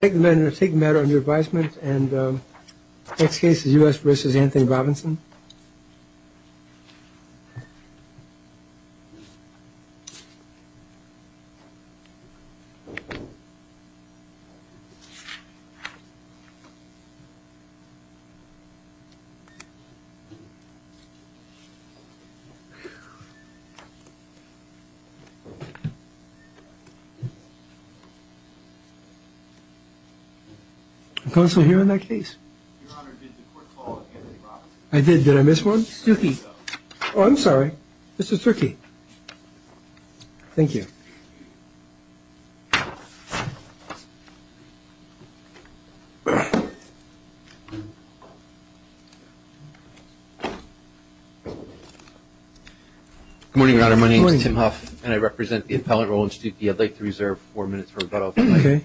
I take the matter under advisement and the next case is U.S. v. Anthony Robinson. Good morning, Your Honor. My name is Tim Huff and I represent the Appellant Role Institute. Mr. Stucke, I'd like to reserve four minutes for rebuttal if I may. Okay.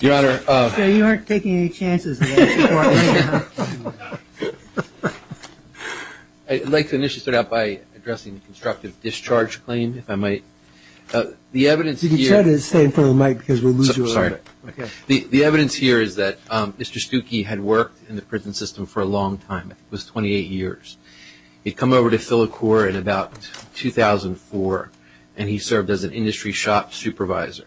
Your Honor, Sir, you aren't taking any chances in this court. I'd like to initiate this by addressing the constructive discharge claim, if I might. The evidence here You can try to stay in front of the mic because we'll lose you a little bit. Sorry. Okay. The evidence here is that Mr. Stucke had worked in the prison system for a long time. It was 28 years. He'd come over to FiliCorps in about 2004 and he served as an industry shop supervisor.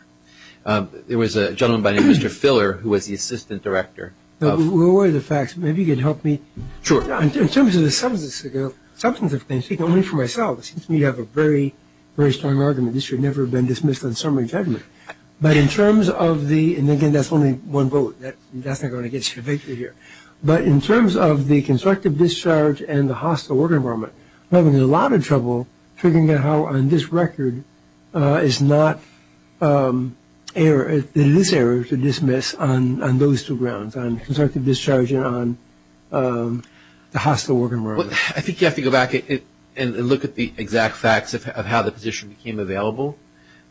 There was a gentleman by the name of Mr. Filler who was the assistant director. We'll worry the facts. Maybe you can help me. Sure. In terms of the substance of things, speaking only for myself, it seems to me you have a very, very strong argument. This should never have been dismissed on summary judgment. But in terms of the – and, again, that's only one vote. That's not going to get you a victory here. But in terms of the constructive discharge and the hostile work environment, I'm having a lot of trouble figuring out how, on this record, it is not error to dismiss on those two grounds, on constructive discharge and on the hostile work environment. I think you have to go back and look at the exact facts of how the position became available.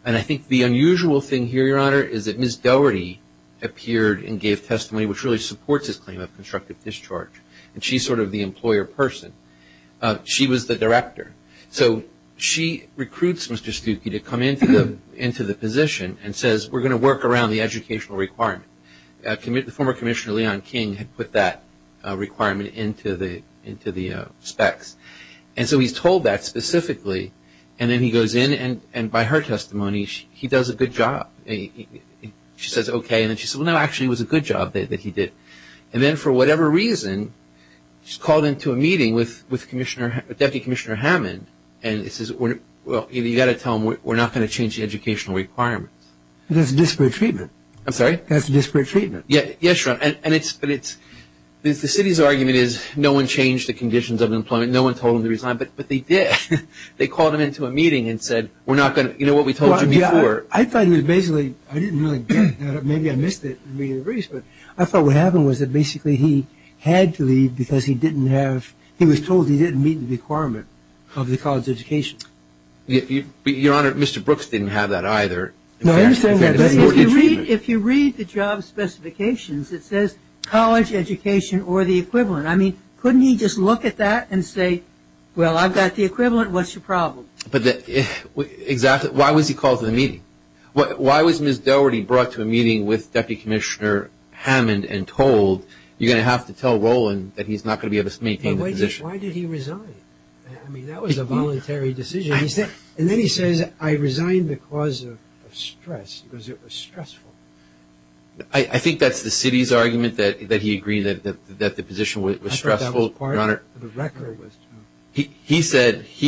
And I think the unusual thing here, Your Honor, is that Ms. Dougherty appeared and gave testimony, which really supports his claim of constructive discharge. And she's sort of the employer person. She was the director. So she recruits Mr. Stuckey to come into the position and says we're going to work around the educational requirement. The former Commissioner Leon King had put that requirement into the specs. And so he's told that specifically and then he goes in and by her testimony he does a good job. She says okay. And then she says, well, no, actually it was a good job that he did. And then for whatever reason she's called into a meeting with Deputy Commissioner Hammond and says, well, you've got to tell him we're not going to change the educational requirements. That's disparate treatment. I'm sorry? That's disparate treatment. Yes, Your Honor. And it's – the city's argument is no one changed the conditions of employment, no one told him to resign, but they did. They called him into a meeting and said we're not going to – you know what we told you before. I thought it was basically – I didn't really get it. Maybe I missed it. I thought what happened was that basically he had to leave because he didn't have – he was told he didn't meet the requirement of the college education. Your Honor, Mr. Brooks didn't have that either. If you read the job specifications it says college education or the equivalent. I mean, couldn't he just look at that and say, well, I've got the equivalent, what's your problem? Exactly. Why was he called to the meeting? Why was Ms. Dougherty brought to a meeting with Deputy Commissioner Hammond and told you're going to have to tell Roland that he's not going to be able to maintain the position? And why did he resign? I mean, that was a voluntary decision. And then he says, I resigned because of stress, because it was stressful. I think that's the city's argument, that he agreed that the position was stressful, Your Honor. I thought that was part of the record. He said –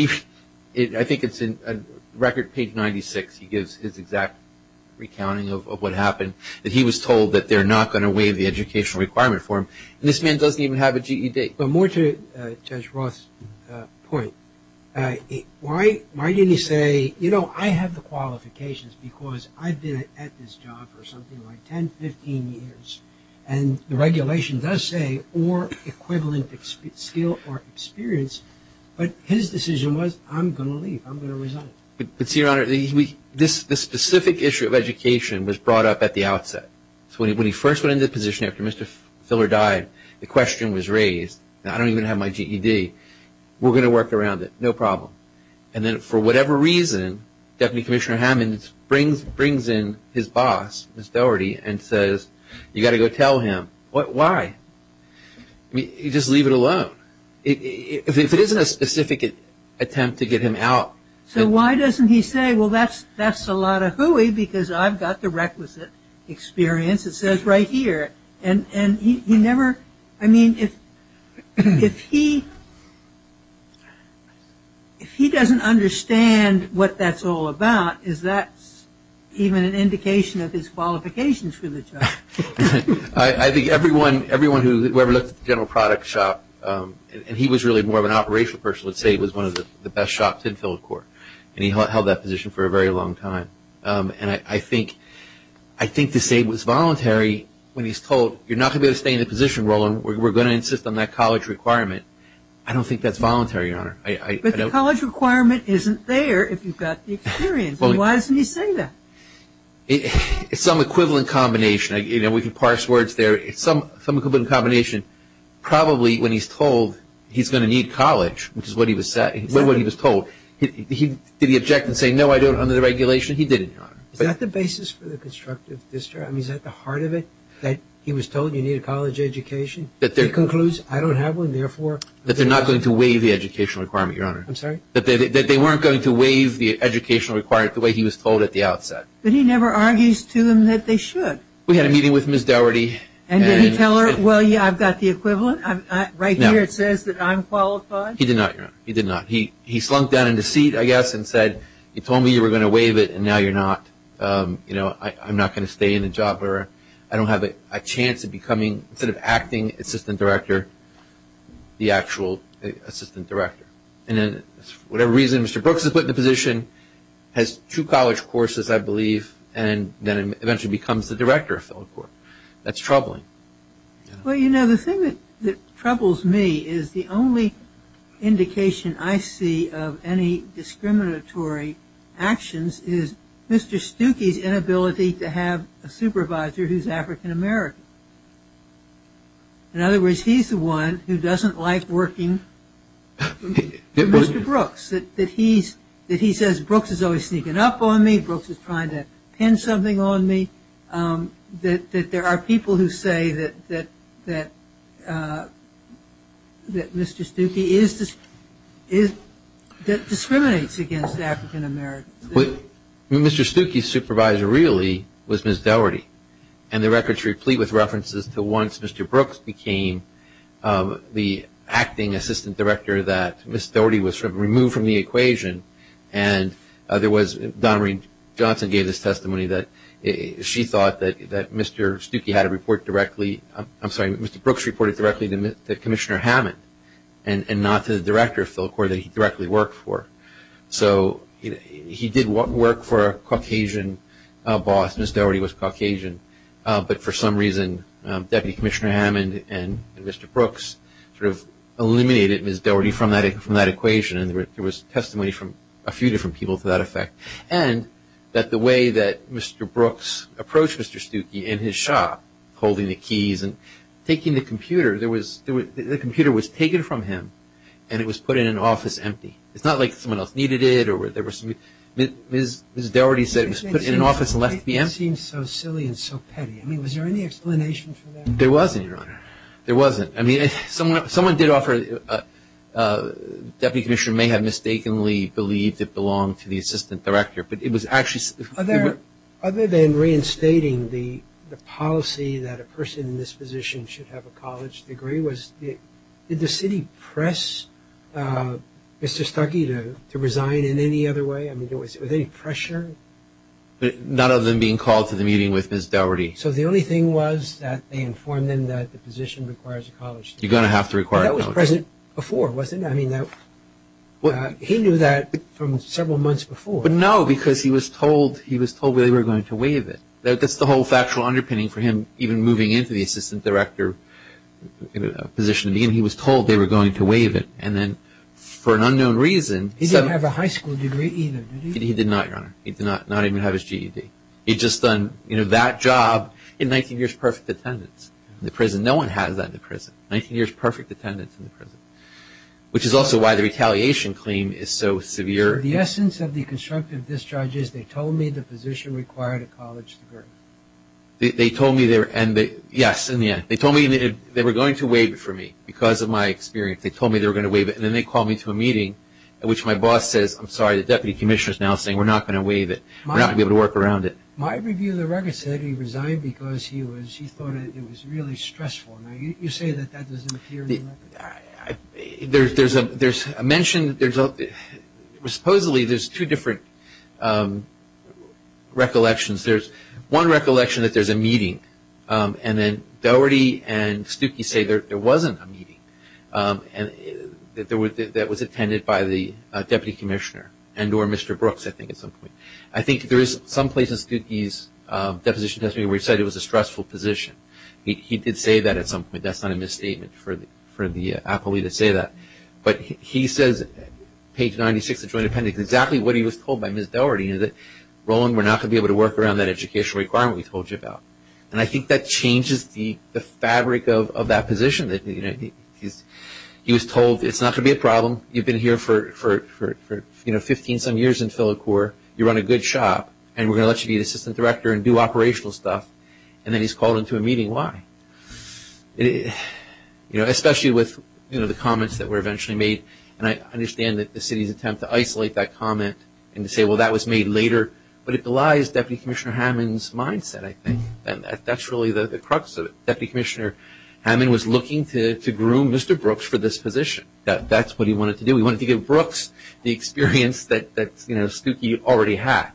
I think it's in record page 96, he gives his exact recounting of what happened, that he was told that they're not going to waive the educational requirement for him. And this man doesn't even have a GED. But more to Judge Roth's point, why didn't he say, you know, I have the qualifications because I've been at this job for something like 10, 15 years. And the regulation does say or equivalent skill or experience. But his decision was, I'm going to leave, I'm going to resign. But, Your Honor, this specific issue of education was brought up at the outset. So when he first went into the position after Mr. Filler died, the question was raised, I don't even have my GED, we're going to work around it, no problem. And then for whatever reason, Deputy Commissioner Hammonds brings in his boss, Ms. Dougherty, and says, you've got to go tell him. Why? Just leave it alone. If it isn't a specific attempt to get him out. So why doesn't he say, well, that's a lot of hooey because I've got the requisite experience, it says right here. And he never, I mean, if he doesn't understand what that's all about, is that even an indication of his qualifications for the job? I think everyone who ever looked at the general product shop, and he was really more of an operational person, let's say he was one of the best shops in Filled Court. And he held that position for a very long time. And I think to say it was voluntary when he's told, you're not going to be able to stay in the position, Roland, we're going to insist on that college requirement. I don't think that's voluntary, Your Honor. But the college requirement isn't there if you've got the experience. Why doesn't he say that? It's some equivalent combination. We can parse words there. It's some equivalent combination. Probably when he's told he's going to need college, which is what he was told, did he object and say, no, I don't, under the regulation? He didn't, Your Honor. Is that the basis for the constructive distrust? I mean, is that the heart of it, that he was told you need a college education? He concludes, I don't have one, therefore. That they're not going to waive the educational requirement, Your Honor. I'm sorry? That they weren't going to waive the educational requirement the way he was told at the outset. But he never argues to them that they should. We had a meeting with Ms. Dougherty. And did he tell her, well, yeah, I've got the equivalent? Right here it says that I'm qualified. He did not, Your Honor. He did not. He slunk down into seat, I guess, and said, you told me you were going to waive it, and now you're not. You know, I'm not going to stay in the job. I don't have a chance of becoming, instead of acting assistant director, the actual assistant director. And then for whatever reason, Mr. Brooks is put in the position, has two college courses, I believe, and then eventually becomes the director of Fellow Corps. That's troubling. Well, you know, the thing that troubles me is the only indication I see of any discriminatory actions is Mr. Stuckey's inability to have a supervisor who's African-American. In other words, he's the one who doesn't like working Mr. Brooks, that he says Brooks is always sneaking up on me, that Brooks is trying to pin something on me, that there are people who say that Mr. Stuckey discriminates against African-Americans. Mr. Stuckey's supervisor really was Ms. Dougherty, and the record's replete with references to once Mr. Brooks became the acting assistant director, that Ms. Dougherty was removed from the equation. And there was – Donna Reed Johnson gave this testimony that she thought that Mr. Stuckey had a report directly – I'm sorry, Mr. Brooks reported directly to Commissioner Hammond and not to the director of Fellow Corps that he directly worked for. So he did work for a Caucasian boss, Ms. Dougherty was Caucasian, but for some reason Deputy Commissioner Hammond and Mr. Brooks sort of eliminated Ms. Dougherty from that equation, and there was testimony from a few different people to that effect. And that the way that Mr. Brooks approached Mr. Stuckey in his shop, holding the keys and taking the computer, there was – the computer was taken from him and it was put in an office empty. It's not like someone else needed it or there was – Ms. Dougherty said it was put in an office and left to be empty. It seems so silly and so petty. I mean, was there any explanation for that? There wasn't, Your Honor. There wasn't. I mean, someone did offer – Deputy Commissioner may have mistakenly believed it belonged to the assistant director, but it was actually – Other than reinstating the policy that a person in this position should have a college degree, did the city press Mr. Stuckey to resign in any other way? I mean, was there any pressure? None other than being called to the meeting with Ms. Dougherty. So the only thing was that they informed him that the position requires a college degree. You're going to have to require a college degree. That was present before, wasn't it? I mean, that – he knew that from several months before. But no, because he was told – he was told they were going to waive it. That's the whole factual underpinning for him even moving into the assistant director position. He was told they were going to waive it, and then for an unknown reason – He didn't have a high school degree either, did he? He did not, Your Honor. He did not even have his GED. He just done, you know, that job in 19 years' perfect attendance in the prison. No one has that in the prison, 19 years' perfect attendance in the prison, which is also why the retaliation claim is so severe. The essence of the constructive discharge is they told me the position required a college degree. They told me they were – yes, in the end. They told me they were going to waive it for me because of my experience. They told me they were going to waive it, and then they called me to a meeting at which my boss says, I'm sorry, the deputy commissioner is now saying we're not going to waive it. We're not going to be able to work around it. My review of the record said he resigned because he was – he thought it was really stressful. Now, you say that that doesn't appear in the record. There's a mention – supposedly there's two different recollections. There's one recollection that there's a meeting, and then Dougherty and Stuckey say there wasn't a meeting that was attended by the deputy commissioner and or Mr. Brooks I think at some point. I think there is some place in Stuckey's deposition testimony where he said it was a stressful position. He did say that at some point. That's not a misstatement for the appellee to say that. But he says, page 96 of the Joint Appendix, exactly what he was told by Ms. Dougherty, that Roland, we're not going to be able to work around that education requirement we told you about. And I think that changes the fabric of that position. He was told it's not going to be a problem. You've been here for 15-some years in Philicore. You run a good shop, and we're going to let you be the assistant director and do operational stuff. And then he's called into a meeting. Why? Especially with the comments that were eventually made. And I understand that the city's attempt to isolate that comment and to say, well, that was made later. But it belies Deputy Commissioner Hammond's mindset, I think. And that's really the crux of it. Deputy Commissioner Hammond was looking to groom Mr. Brooks for this position. That's what he wanted to do. He wanted to give Brooks the experience that Stuckey already had.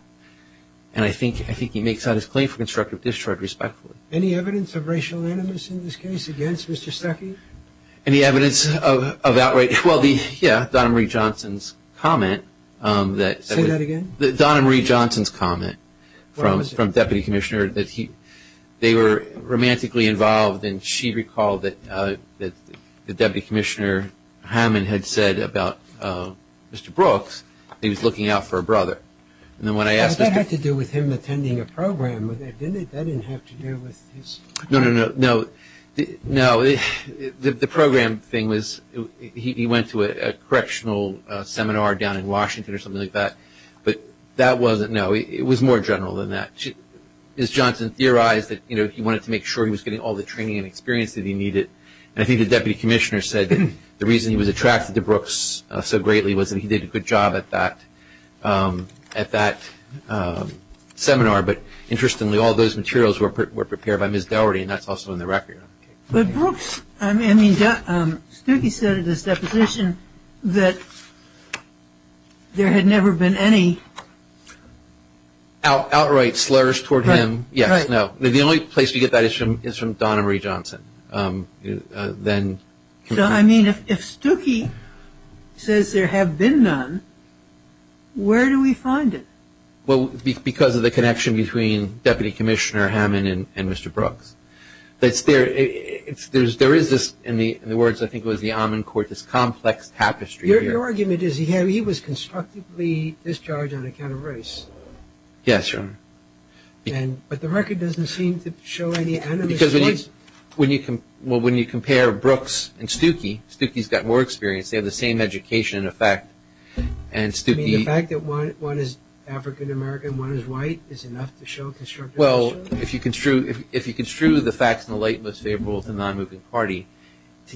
And I think he makes out his claim for constructive discharge respectfully. Any evidence of racial animus in this case against Mr. Stuckey? Any evidence of outrage? Well, yeah, Donna Marie Johnson's comment. Say that again. Donna Marie Johnson's comment from Deputy Commissioner that they were romantically involved. And she recalled that Deputy Commissioner Hammond had said about Mr. Brooks that he was looking out for a brother. That had to do with him attending a program, didn't it? That didn't have to do with his. No, no, no. No, the program thing was he went to a correctional seminar down in Washington or something like that. But that wasn't, no, it was more general than that. Ms. Johnson theorized that he wanted to make sure he was getting all the training and experience that he needed. And I think the Deputy Commissioner said that the reason he was attracted to Brooks so greatly was that he did a good job at that seminar. But interestingly, all those materials were prepared by Ms. Dougherty, and that's also in the record. But Brooks, I mean, Stuckey said in his deposition that there had never been any. Outright slurs toward him, yes, no. The only place you get that is from Donna Marie Johnson. So, I mean, if Stuckey says there have been none, where do we find it? Well, because of the connection between Deputy Commissioner Hammond and Mr. Brooks. There is this, in the words I think it was the Amman Court, this complex tapestry here. Your argument is he was constructively discharged on account of race. Yes, Your Honor. But the record doesn't seem to show any animus points. Because when you compare Brooks and Stuckey, Stuckey's got more experience. They have the same education, in effect. I mean, the fact that one is African-American and one is white is enough to show constructivism? Well, if you construe the facts in the light most favorable to the non-moving party,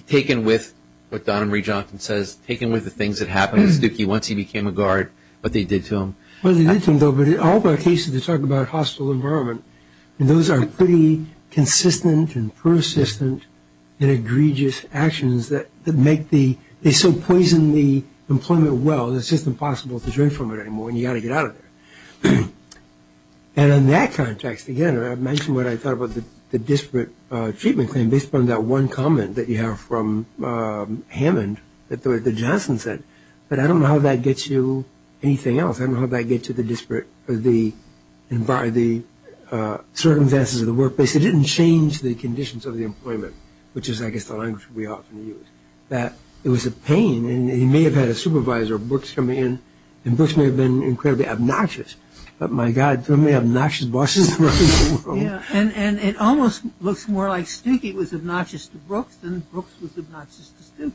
taken with what Donna Marie Johnson says, taken with the things that happened to Stuckey once he became a guard, what they did to him. Well, they did to him, though, but all of our cases, they talk about hostile environment. And those are pretty consistent and persistent and egregious actions that make the they so poison the employment well that it's just impossible to drink from it anymore and you've got to get out of there. And in that context, again, I mentioned what I thought about the disparate treatment claim based upon that one comment that you have from Hammond that Johnson said. But I don't know how that gets you anything else. I don't know how that gets you the circumstances of the workplace. It didn't change the conditions of the employment, which is, I guess, the language we often use. It was a pain, and he may have had a supervisor, Brooks, come in, and Brooks may have been incredibly obnoxious, but my God, so many obnoxious bosses around the world. And it almost looks more like Stuckey was obnoxious to Brooks than Brooks was obnoxious to Stuckey.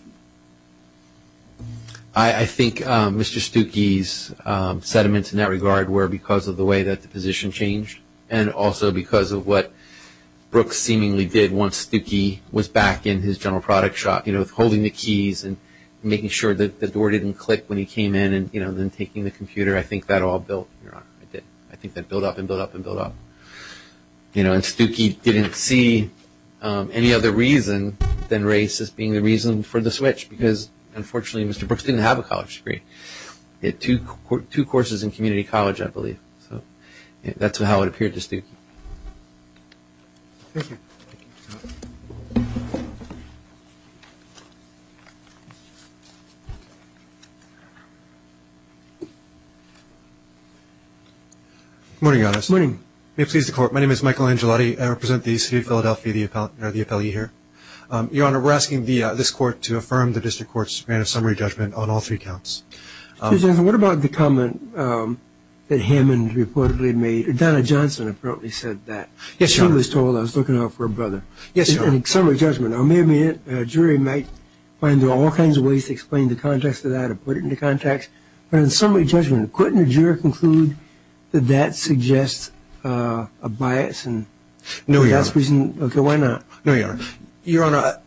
I think Mr. Stuckey's sentiments in that regard were because of the way that the position changed and also because of what Brooks seemingly did once Stuckey was back in his general product shop, you know, with holding the keys and making sure that the door didn't click when he came in and, you know, then taking the computer. I think that all built. I think that built up and built up and built up. You know, and Stuckey didn't see any other reason than race as being the reason for the switch because, unfortunately, Mr. Brooks didn't have a college degree. He had two courses in community college, I believe. So that's how it appeared to Stuckey. Thank you. Good morning, Your Honor. Good morning. May it please the Court, my name is Michael Angelotti. I represent the City of Philadelphia, the appellee here. Your Honor, we're asking this Court to affirm the District Court's grant of summary judgment on all three counts. Your Honor, what about the comment that Hammond reportedly made? Donna Johnson apparently said that. Yes, Your Honor. She was told I was looking out for her brother. Yes, Your Honor. Summary judgment. Now, maybe a jury might find all kinds of ways to explain the context of that or put it into context, but in summary judgment, couldn't a juror conclude that that suggests a bias? No, Your Honor. Okay, why not? No, Your Honor. Your Honor,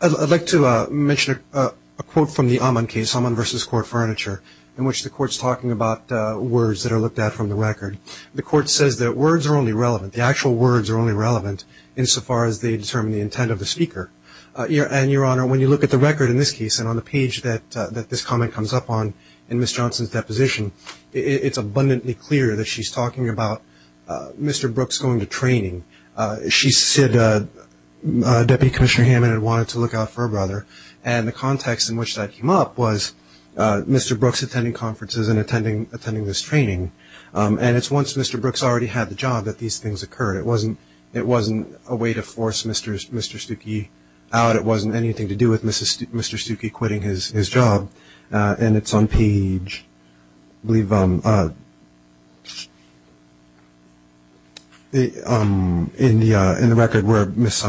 I'd like to mention a quote from the Hammond case, Hammond v. Court Furniture, in which the Court's talking about words that are looked at from the record. The Court says that words are only relevant, the actual words are only relevant, insofar as they determine the intent of the speaker. And, Your Honor, when you look at the record in this case and on the page that this comment comes up on in Ms. Johnson's deposition, it's abundantly clear that she's talking about Mr. Brooks going to training. She said Deputy Commissioner Hammond had wanted to look out for her brother, and the context in which that came up was Mr. Brooks attending conferences and attending this training. And it's once Mr. Brooks already had the job that these things occurred. It wasn't a way to force Mr. Stuckey out. It wasn't anything to do with Mr. Stuckey quitting his job. And it's on page, I believe, in the record where Ms.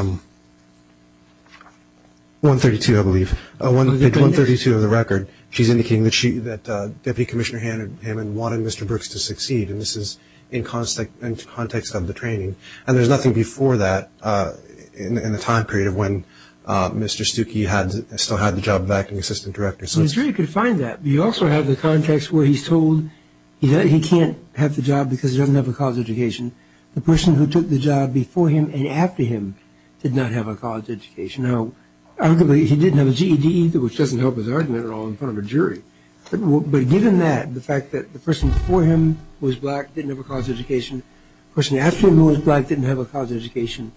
132, I believe, page 132 of the record, she's indicating that Deputy Commissioner Hammond wanted Mr. Brooks to succeed, and this is in context of the training. And there's nothing before that in the time period of when Mr. Stuckey still had the job of acting assistant director. The jury could find that, but you also have the context where he's told he can't have the job because he doesn't have a college education. The person who took the job before him and after him did not have a college education. Now, arguably, he didn't have a GED either, which doesn't help his argument at all in front of a jury. But given that, the fact that the person before him who was black didn't have a college education, the person after him who was black didn't have a college education,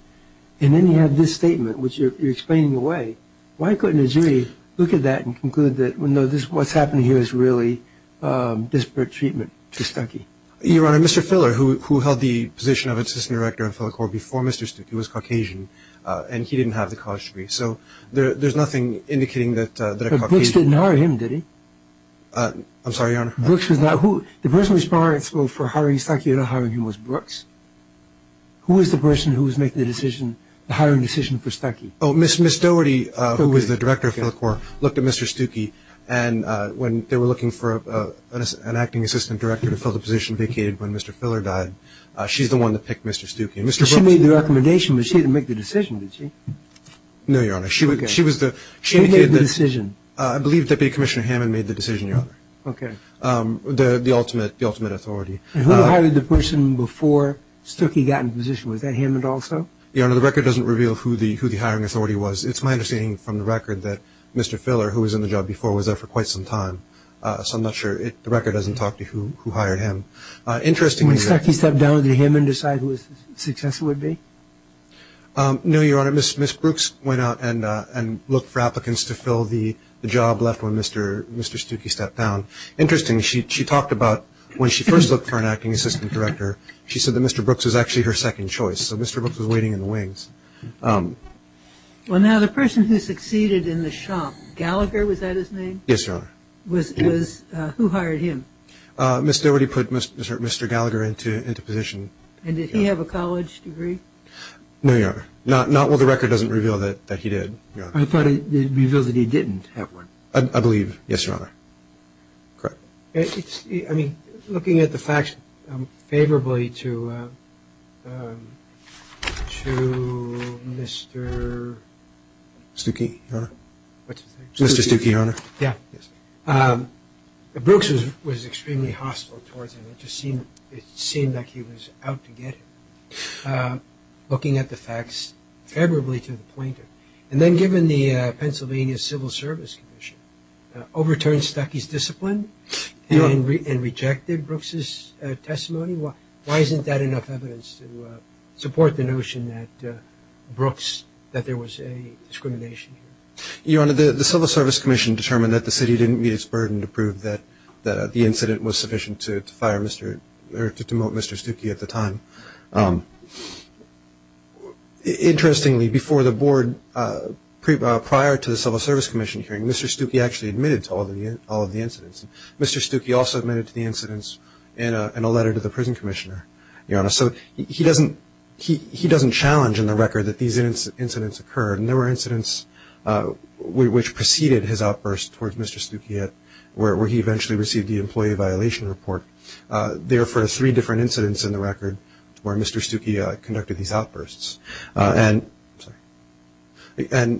and then you have this statement, which you're explaining away. Why couldn't a jury look at that and conclude that, no, what's happening here is really disparate treatment to Stuckey? Your Honor, Mr. Filler, who held the position of assistant director before Mr. Stuckey was Caucasian, and he didn't have the college degree. So there's nothing indicating that a Caucasian. But Brooks didn't hire him, did he? I'm sorry, Your Honor. Brooks was not who? The person responsible for hiring Stuckey and not hiring him was Brooks. Who was the person who was making the decision, the hiring decision for Stuckey? Oh, Ms. Doherty, who was the director of the court, looked at Mr. Stuckey, and when they were looking for an acting assistant director to fill the position vacated when Mr. Filler died, she's the one that picked Mr. Stuckey. She made the recommendation, but she didn't make the decision, did she? No, Your Honor. She made the decision. I believe Deputy Commissioner Hammond made the decision, Your Honor. Okay. The ultimate authority. Who hired the person before Stuckey got in position? Was that Hammond also? Your Honor, the record doesn't reveal who the hiring authority was. It's my understanding from the record that Mr. Filler, who was in the job before, was there for quite some time. So I'm not sure. The record doesn't talk to who hired him. When Stuckey stepped down, did Hammond decide who his successor would be? No, Your Honor. Ms. Brooks went out and looked for applicants to fill the job left when Mr. Stuckey stepped down. Interesting, she talked about when she first looked for an acting assistant director, she said that Mr. Brooks was actually her second choice. So Mr. Brooks was waiting in the wings. Well, now, the person who succeeded in the shop, Gallagher, was that his name? Yes, Your Honor. Who hired him? Ms. Doherty put Mr. Gallagher into position. And did he have a college degree? No, Your Honor. Well, the record doesn't reveal that he did, Your Honor. I thought it revealed that he didn't have one. I believe, yes, Your Honor. I mean, looking at the facts, favorably to Mr. Stuckey, Your Honor. What's his name? Mr. Stuckey, Your Honor. Yeah. Brooks was extremely hostile towards him. It just seemed like he was out to get him. Looking at the facts, favorably to the plaintiff. And then given the Pennsylvania Civil Service Commission overturned Stuckey's discipline and rejected Brooks' testimony, why isn't that enough evidence to support the notion that Brooks, that there was a discrimination here? Your Honor, the Civil Service Commission determined that the city didn't meet its burden to prove that the incident was sufficient to fire Mr. or to demote Mr. Stuckey at the time. Interestingly, before the board, prior to the Civil Service Commission hearing, Mr. Stuckey actually admitted to all of the incidents. Mr. Stuckey also admitted to the incidents in a letter to the prison commissioner, Your Honor. So he doesn't challenge in the record that these incidents occurred. And there were incidents which preceded his outburst towards Mr. Stuckey where he eventually received the employee violation report. There were three different incidents in the record where Mr. Stuckey conducted these outbursts. And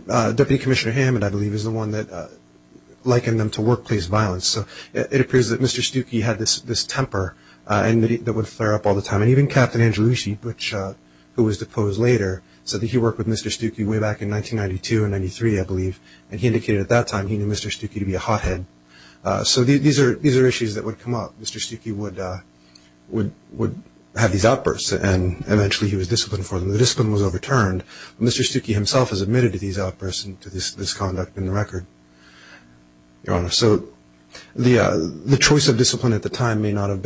Deputy Commissioner Hammond, I believe, is the one that likened them to workplace violence. So it appears that Mr. Stuckey had this temper that would flare up all the time. And even Captain Angelucci, who was deposed later, said that he worked with Mr. Stuckey way back in 1992 and 1993, I believe. And he indicated at that time he knew Mr. Stuckey to be a hothead. So these are issues that would come up. Mr. Stuckey would have these outbursts, and eventually he was disciplined for them. The discipline was overturned. Mr. Stuckey himself has admitted to these outbursts and to this conduct in the record, Your Honor. So the choice of discipline at the time may have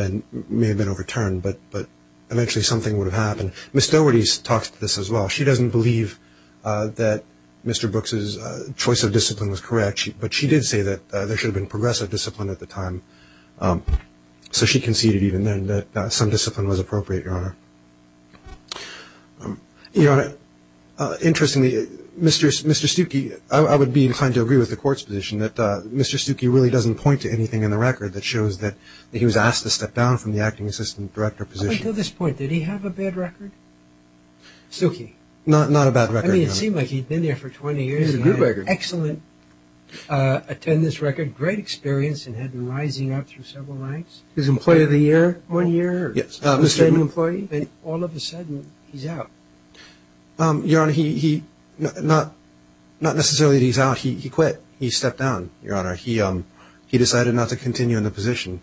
been overturned, but eventually something would have happened. Ms. Doherty talks to this as well. She doesn't believe that Mr. Brooks's choice of discipline was correct, but she did say that there should have been progressive discipline at the time. So she conceded even then that some discipline was appropriate, Your Honor. Your Honor, interestingly, Mr. Stuckey, I would be inclined to agree with the Court's position that Mr. Stuckey really doesn't point to anything in the record that shows that he was asked to step down from the acting assistant director position. Up until this point, did he have a bad record? Stuckey? Not a bad record, Your Honor. I mean, it seemed like he'd been there for 20 years. He had an excellent attendance record, great experience, and had been rising up through several ranks. His employee of the year? One year. Yes. All of a sudden, he's out. Your Honor, not necessarily that he's out. He quit. He stepped down, Your Honor. He decided not to continue in the position.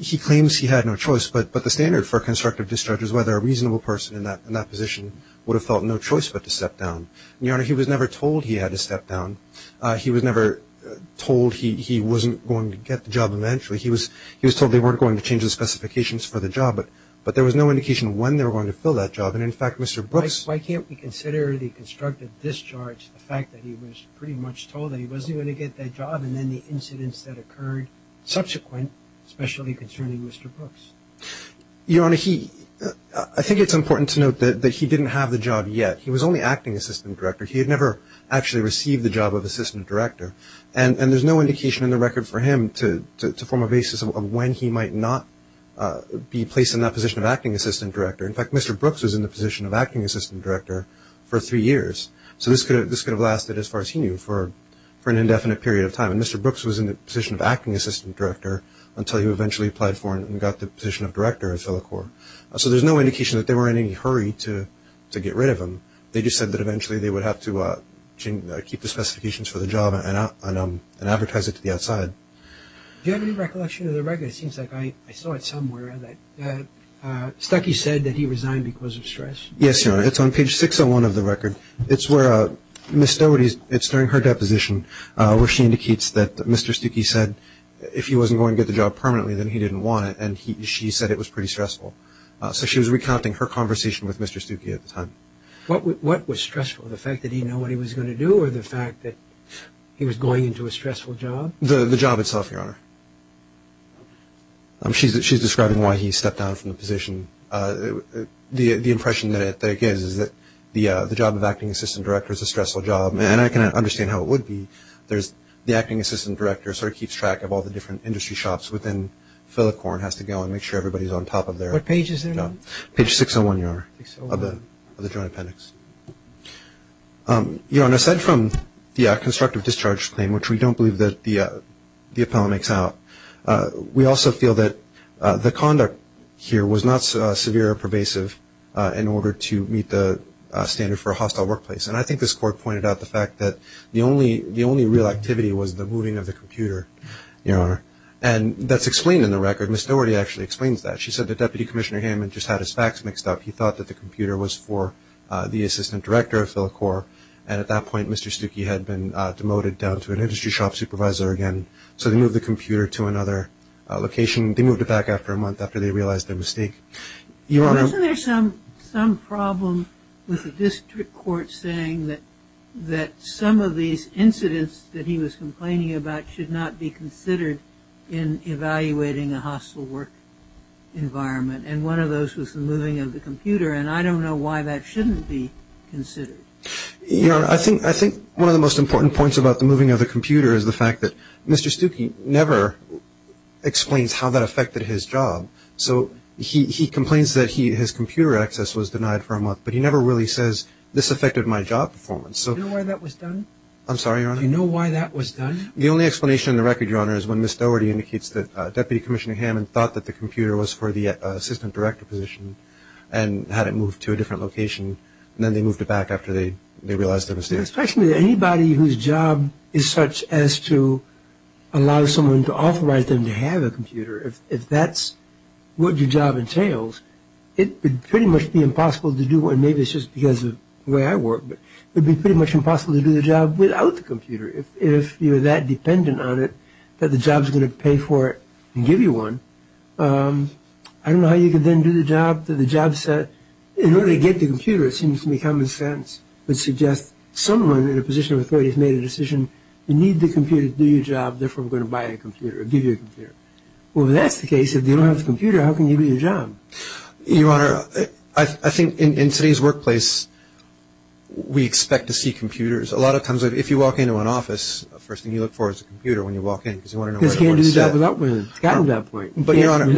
He claims he had no choice, but the standard for a constructive discharge is whether a reasonable person in that position would have felt no choice but to step down. Your Honor, he was never told he had to step down. He was never told he wasn't going to get the job eventually. He was told they weren't going to change the specifications for the job, but there was no indication of when they were going to fill that job. And, in fact, Mr. Brooks… Why can't we consider the constructive discharge, the fact that he was pretty much told that he wasn't going to get that job, and then the incidents that occurred subsequent, especially concerning Mr. Brooks? Your Honor, I think it's important to note that he didn't have the job yet. He was only acting assistant director. He had never actually received the job of assistant director. And there's no indication in the record for him to form a basis of when he might not be placed in that position of acting assistant director. In fact, Mr. Brooks was in the position of acting assistant director for three years. So this could have lasted, as far as he knew, for an indefinite period of time. And Mr. Brooks was in the position of acting assistant director until he eventually applied for and got the position of director at FiliCorps. So there's no indication that they were in any hurry to get rid of him. They just said that eventually they would have to keep the specifications for the job and advertise it to the outside. Do you have any recollection of the record? It seems like I saw it somewhere. Stuckey said that he resigned because of stress. Yes, Your Honor. It's on page 601 of the record. It's where Ms. Doherty's – it's during her deposition where she indicates that Mr. Stuckey said that if he wasn't going to get the job permanently, then he didn't want it. And she said it was pretty stressful. So she was recounting her conversation with Mr. Stuckey at the time. What was stressful, the fact that he didn't know what he was going to do or the fact that he was going into a stressful job? The job itself, Your Honor. She's describing why he stepped down from the position. The impression that it gives is that the job of acting assistant director is a stressful job. And I can understand how it would be. The acting assistant director sort of keeps track of all the different industry shops within Fillicorn, has to go and make sure everybody's on top of their – What page is it on? Page 601, Your Honor, of the Joint Appendix. Your Honor, aside from the constructive discharge claim, which we don't believe the appellant makes out, we also feel that the conduct here was not severe or pervasive in order to meet the standard for a hostile workplace. And I think this court pointed out the fact that the only real activity was the moving of the computer, Your Honor. And that's explained in the record. Ms. Doherty actually explains that. She said that Deputy Commissioner Hammond just had his facts mixed up. He thought that the computer was for the assistant director of Fillicorn. And at that point, Mr. Stuckey had been demoted down to an industry shop supervisor again. So they moved the computer to another location. They moved it back after a month after they realized their mistake. Wasn't there some problem with the district court saying that some of these incidents that he was complaining about should not be considered in evaluating a hostile work environment? And one of those was the moving of the computer. And I don't know why that shouldn't be considered. Your Honor, I think one of the most important points about the moving of the computer is the fact that Mr. Stuckey never explains how that affected his job. So he complains that his computer access was denied for a month, but he never really says this affected my job performance. Do you know why that was done? I'm sorry, Your Honor? Do you know why that was done? The only explanation in the record, Your Honor, is when Ms. Doherty indicates that Deputy Commissioner Hammond thought that the computer was for the assistant director position and had it moved to a different location, and then they moved it back after they realized their mistake. It strikes me that anybody whose job is such as to allow someone to authorize them to have a computer, if that's what your job entails, it would pretty much be impossible to do, and maybe it's just because of the way I work, but it would be pretty much impossible to do the job without the computer if you're that dependent on it that the job's going to pay for it and give you one. I don't know how you could then do the job that the job said. In order to get the computer, it seems to me common sense, would suggest someone in a position of authority has made a decision, you need the computer to do your job, therefore we're going to buy a computer or give you a computer. Well, if that's the case, if you don't have the computer, how can you do your job? Your Honor, I think in today's workplace, we expect to see computers. A lot of times if you walk into an office, the first thing you look for is a computer when you walk in because you want to know what everyone has said. Because you can't do the job without one. It's gotten to that point. But, Your Honor, You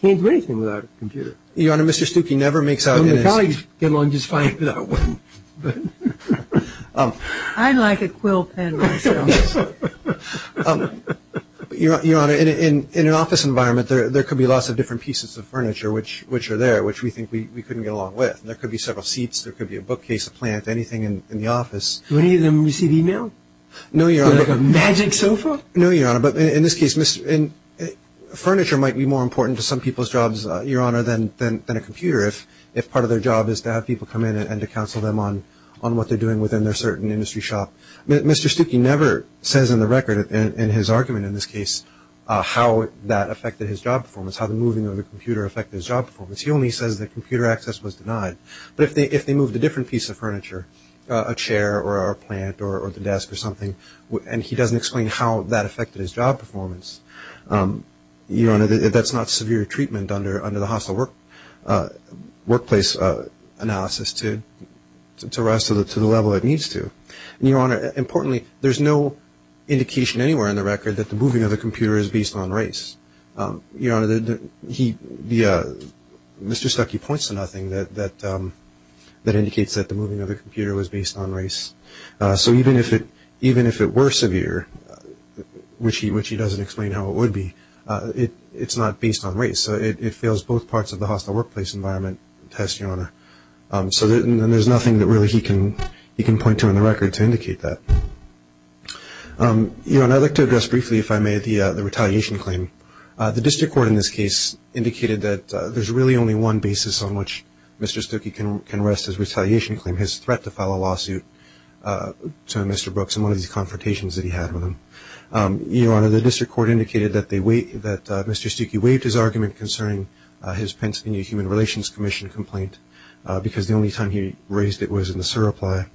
can't do anything without a computer. Your Honor, Mr. Stuckey never makes out in his My colleagues get along just fine without one. I like a quill pen myself. Your Honor, in an office environment, there could be lots of different pieces of furniture which are there, which we think we couldn't get along with. There could be several seats. There could be a bookcase, a plant, anything in the office. Do any of them receive email? No, Your Honor. Like a magic sofa? No, Your Honor. But in this case, furniture might be more important to some people's jobs, Your Honor, than a computer if part of their job is to have people come in and to counsel them on what they're doing within their certain industry shop. Mr. Stuckey never says in the record in his argument in this case how that affected his job performance, how the moving of the computer affected his job performance. He only says that computer access was denied. But if they moved a different piece of furniture, a chair or a plant or the desk or something, and he doesn't explain how that affected his job performance, Your Honor, that's not severe treatment under the hostile workplace analysis to rise to the level it needs to. And, Your Honor, importantly, there's no indication anywhere in the record that the moving of the computer is based on race. Your Honor, Mr. Stuckey points to nothing that indicates that the moving of the computer was based on race. So even if it were severe, which he doesn't explain how it would be, it's not based on race. It fails both parts of the hostile workplace environment test, Your Honor. So there's nothing that really he can point to in the record to indicate that. Your Honor, I'd like to address briefly, if I may, the retaliation claim. The district court in this case indicated that there's really only one basis on which Mr. Stuckey can rest his retaliation claim, his threat to file a lawsuit to Mr. Brooks in one of these confrontations that he had with him. Your Honor, the district court indicated that Mr. Stuckey waived his argument concerning his Pennsylvania Human Relations Commission complaint because the only time he raised it was in the surrepli.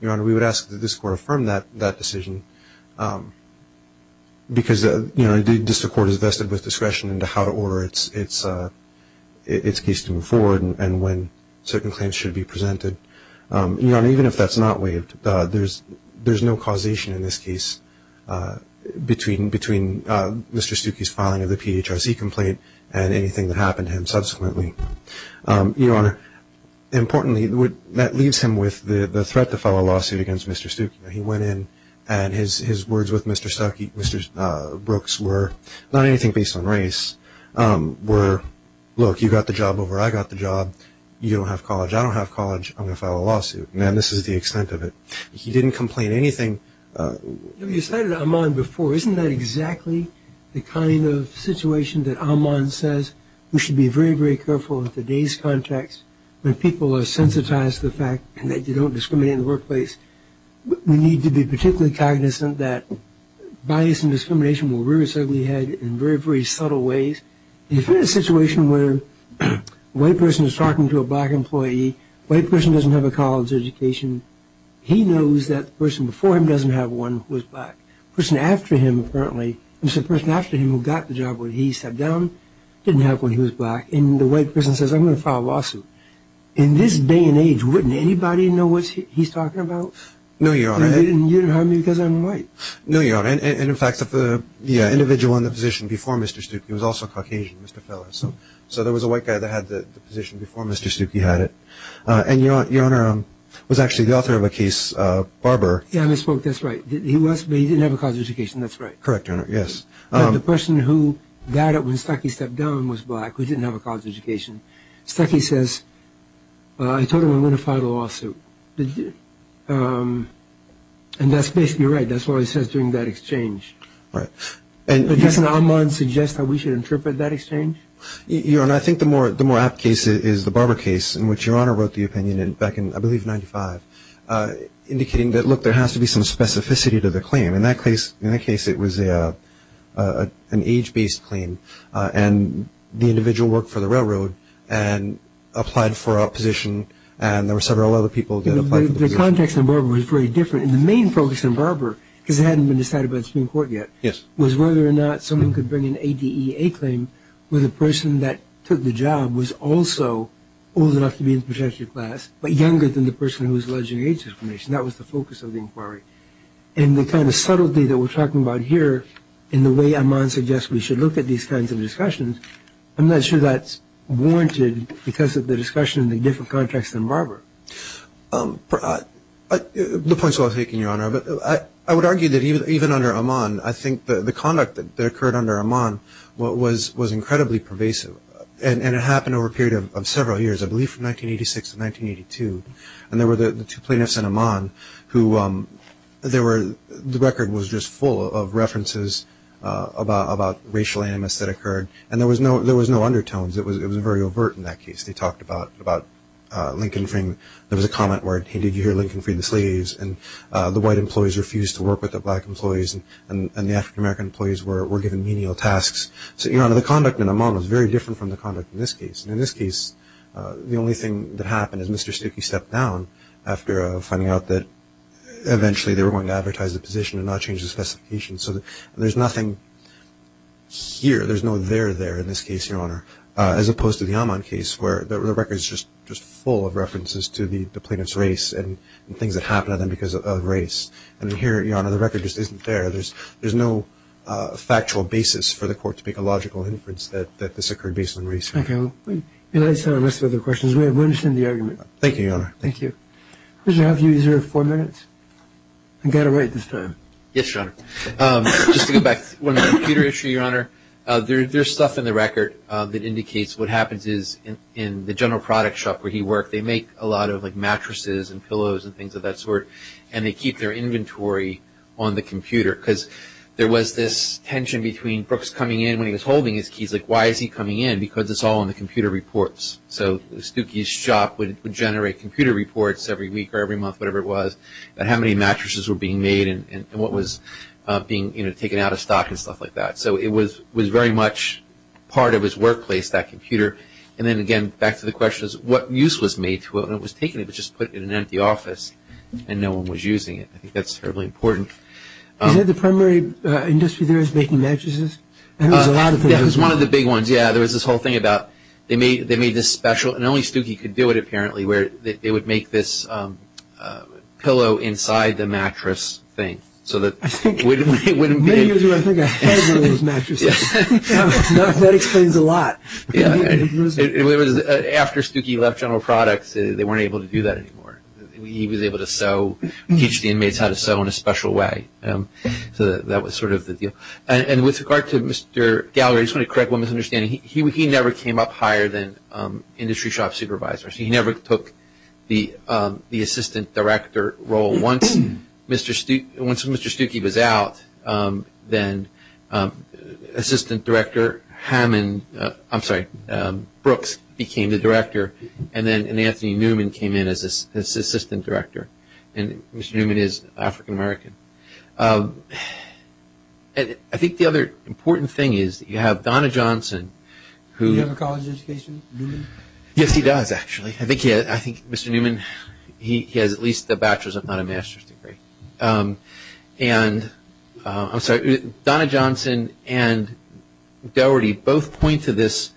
Your Honor, we would ask that this court affirm that decision because, you know, even if that's not waived, there's no causation in this case between Mr. Stuckey's filing of the PHRC complaint and anything that happened to him subsequently. Your Honor, importantly, that leaves him with the threat to file a lawsuit against Mr. Stuckey. He went in and his words with Mr. Brooks were not anything based on race, were, look, you got the job over. I got the job. I don't have college. I'm going to file a lawsuit. Now, this is the extent of it. He didn't complain anything. You know, you cited Amman before. Isn't that exactly the kind of situation that Amman says we should be very, very careful in today's context when people are sensitized to the fact that you don't discriminate in the workplace? We need to be particularly cognizant that bias and discrimination will rear its ugly head in very, very subtle ways. If you're in a situation where a white person is talking to a black employee, a white person doesn't have a college education, he knows that the person before him doesn't have one who is black. The person after him, apparently, the person after him who got the job when he sat down didn't have one who was black. And the white person says, I'm going to file a lawsuit. In this day and age, wouldn't anybody know what he's talking about? No, Your Honor. And you don't harm me because I'm white. No, Your Honor. And, in fact, the individual in the position before Mr. Stuckey was also Caucasian, Mr. Feller. So there was a white guy that had the position before Mr. Stuckey had it. And Your Honor, it was actually the author of a case, Barber. Yeah, I misspoke. That's right. He didn't have a college education. That's right. Correct, Your Honor. Yes. The person who died when Stuckey stepped down was black, who didn't have a college education. Stuckey says, I told him I'm going to file a lawsuit. And that's basically right. That's what he says during that exchange. Right. Doesn't Amon suggest that we should interpret that exchange? Your Honor, I think the more apt case is the Barber case, in which Your Honor wrote the opinion back in, I believe, 1995, indicating that, look, there has to be some specificity to the claim. In that case, it was an age-based claim. And the individual worked for the railroad and applied for a position. And there were several other people that applied for the position. But the context in Barber was very different. And the main focus in Barber, because it hadn't been decided by the Supreme Court yet, was whether or not someone could bring an ADEA claim where the person that took the job was also old enough to be in the protective class but younger than the person who was alleging age discrimination. That was the focus of the inquiry. And the kind of subtlety that we're talking about here in the way Amon suggests we should look at these kinds of discussions, I'm not sure that's warranted because of the discussion in a different context than Barber. The point is well taken, Your Honor. I would argue that even under Amon, I think the conduct that occurred under Amon was incredibly pervasive. And it happened over a period of several years, I believe from 1986 to 1982. And there were the two plaintiffs in Amon who the record was just full of references about racial animus that occurred. And there was no undertones. It was very overt in that case. They talked about Lincoln freeing – there was a comment where, hey, did you hear Lincoln free the slaves? And the white employees refused to work with the black employees. And the African-American employees were given menial tasks. So, Your Honor, the conduct in Amon was very different from the conduct in this case. In this case, the only thing that happened is Mr. Stuckey stepped down after finding out that eventually they were going to advertise the position and not change the specifications. So there's nothing here. There's no there there in this case, Your Honor, as opposed to the Amon case where the record is just full of references to the plaintiff's race and things that happened to them because of race. And here, Your Honor, the record just isn't there. There's no factual basis for the court to make a logical inference that this occurred based on race. Okay. Let's have a list of other questions. We understand the argument. Thank you, Your Honor. Thank you. We'll just have you use your four minutes. I've got to write this time. Yes, Your Honor. Just to go back to the computer issue, Your Honor. There's stuff in the record that indicates what happens is in the general product shop where he worked, they make a lot of mattresses and pillows and things of that sort, and they keep their inventory on the computer. Because there was this tension between Brooks coming in when he was holding his keys. Like, why is he coming in? Because it's all in the computer reports. So Stuckey's shop would generate computer reports every week or every month, whatever it was, about how many mattresses were being made and what was being taken out of stock and stuff like that. So it was very much part of his workplace, that computer. And then, again, back to the question, what use was made to it? It was taken and just put in an empty office, and no one was using it. I think that's terribly important. Is that the primary industry there is making mattresses? That was one of the big ones, yeah. There was this whole thing about they made this special, and only Stuckey could do it apparently, where they would make this pillow inside the mattress thing. I think many years ago I think I had one of those mattresses. That explains a lot. After Stuckey left general products, they weren't able to do that anymore. He was able to sew, teach the inmates how to sew in a special way. So that was sort of the deal. And with regard to Mr. Gallagher, I just want to correct one misunderstanding. He never came up higher than industry shop supervisors. He never took the assistant director role. Once Mr. Stuckey was out, then assistant director Brooks became the director, and then Anthony Newman came in as assistant director. And Mr. Newman is African American. I think the other important thing is you have Donna Johnson. Do you have a college education, Newman? Yes, he does actually. I think Mr. Newman, he has at least a bachelor's, if not a master's degree. And Donna Johnson and Dougherty both point to this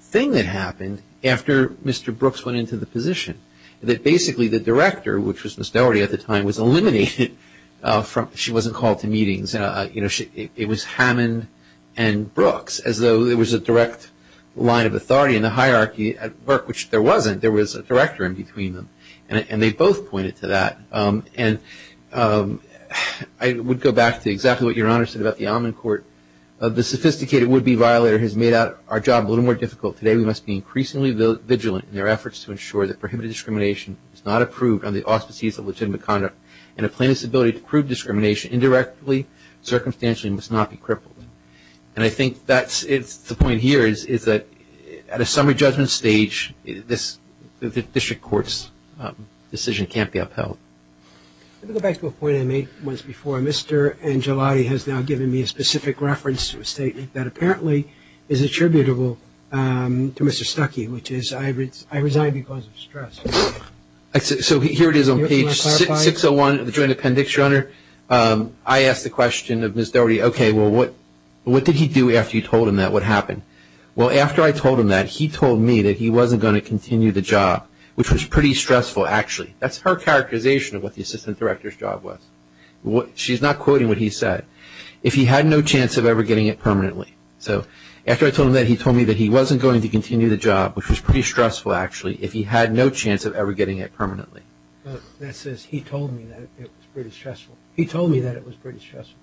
thing that happened after Mr. Brooks went into the position. That basically the director, which was Ms. Dougherty at the time, was eliminated. She wasn't called to meetings. It was Hammond and Brooks, as though there was a direct line of authority in the hierarchy at work, which there wasn't. There was a director in between them. And they both pointed to that. And I would go back to exactly what Your Honor said about the almond court. The sophisticated would-be violator has made our job a little more difficult. Today we must be increasingly vigilant in our efforts to ensure that prohibited discrimination is not approved on the auspices of legitimate conduct, and a plaintiff's ability to prove discrimination indirectly, circumstantially, must not be crippled. And I think that's the point here, is that at a summary judgment stage, this district court's decision can't be upheld. Let me go back to a point I made once before. Mr. Angelotti has now given me a specific reference to a statement that apparently is attributable to Mr. Stuckey, which is I resign because of stress. So here it is on page 601 of the joint appendix, Your Honor. I asked the question of Ms. Dougherty, okay, well, what did he do after you told him that? What happened? Well, after I told him that, he told me that he wasn't going to continue the job, which was pretty stressful, actually. That's her characterization of what the assistant director's job was. She's not quoting what he said. If he had no chance of ever getting it permanently. So after I told him that, he told me that he wasn't going to continue the job, which was pretty stressful, actually, if he had no chance of ever getting it permanently. That says he told me that it was pretty stressful. He told me that it was pretty stressful.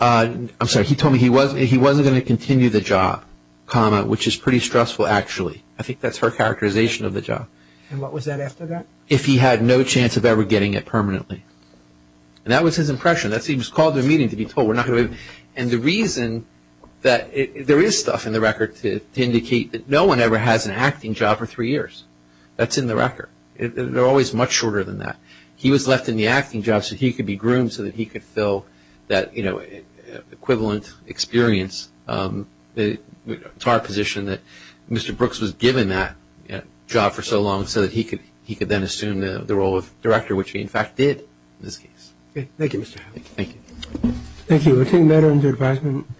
I'm sorry, he told me he wasn't going to continue the job, comma, which is pretty stressful, actually. I think that's her characterization of the job. And what was that after that? If he had no chance of ever getting it permanently. And that was his impression. That's what he was called to a meeting to be told. And the reason that there is stuff in the record to indicate that no one ever has an acting job for three years. That's in the record. They're always much shorter than that. He was left in the acting job so he could be groomed so that he could fill that, you know, equivalent experience. It's our position that Mr. Brooks was given that job for so long so that he could then assume the role of director, which he, in fact, did in this case. Thank you, Mr. Howell. Thank you. Thank you. We're taking that under advisement.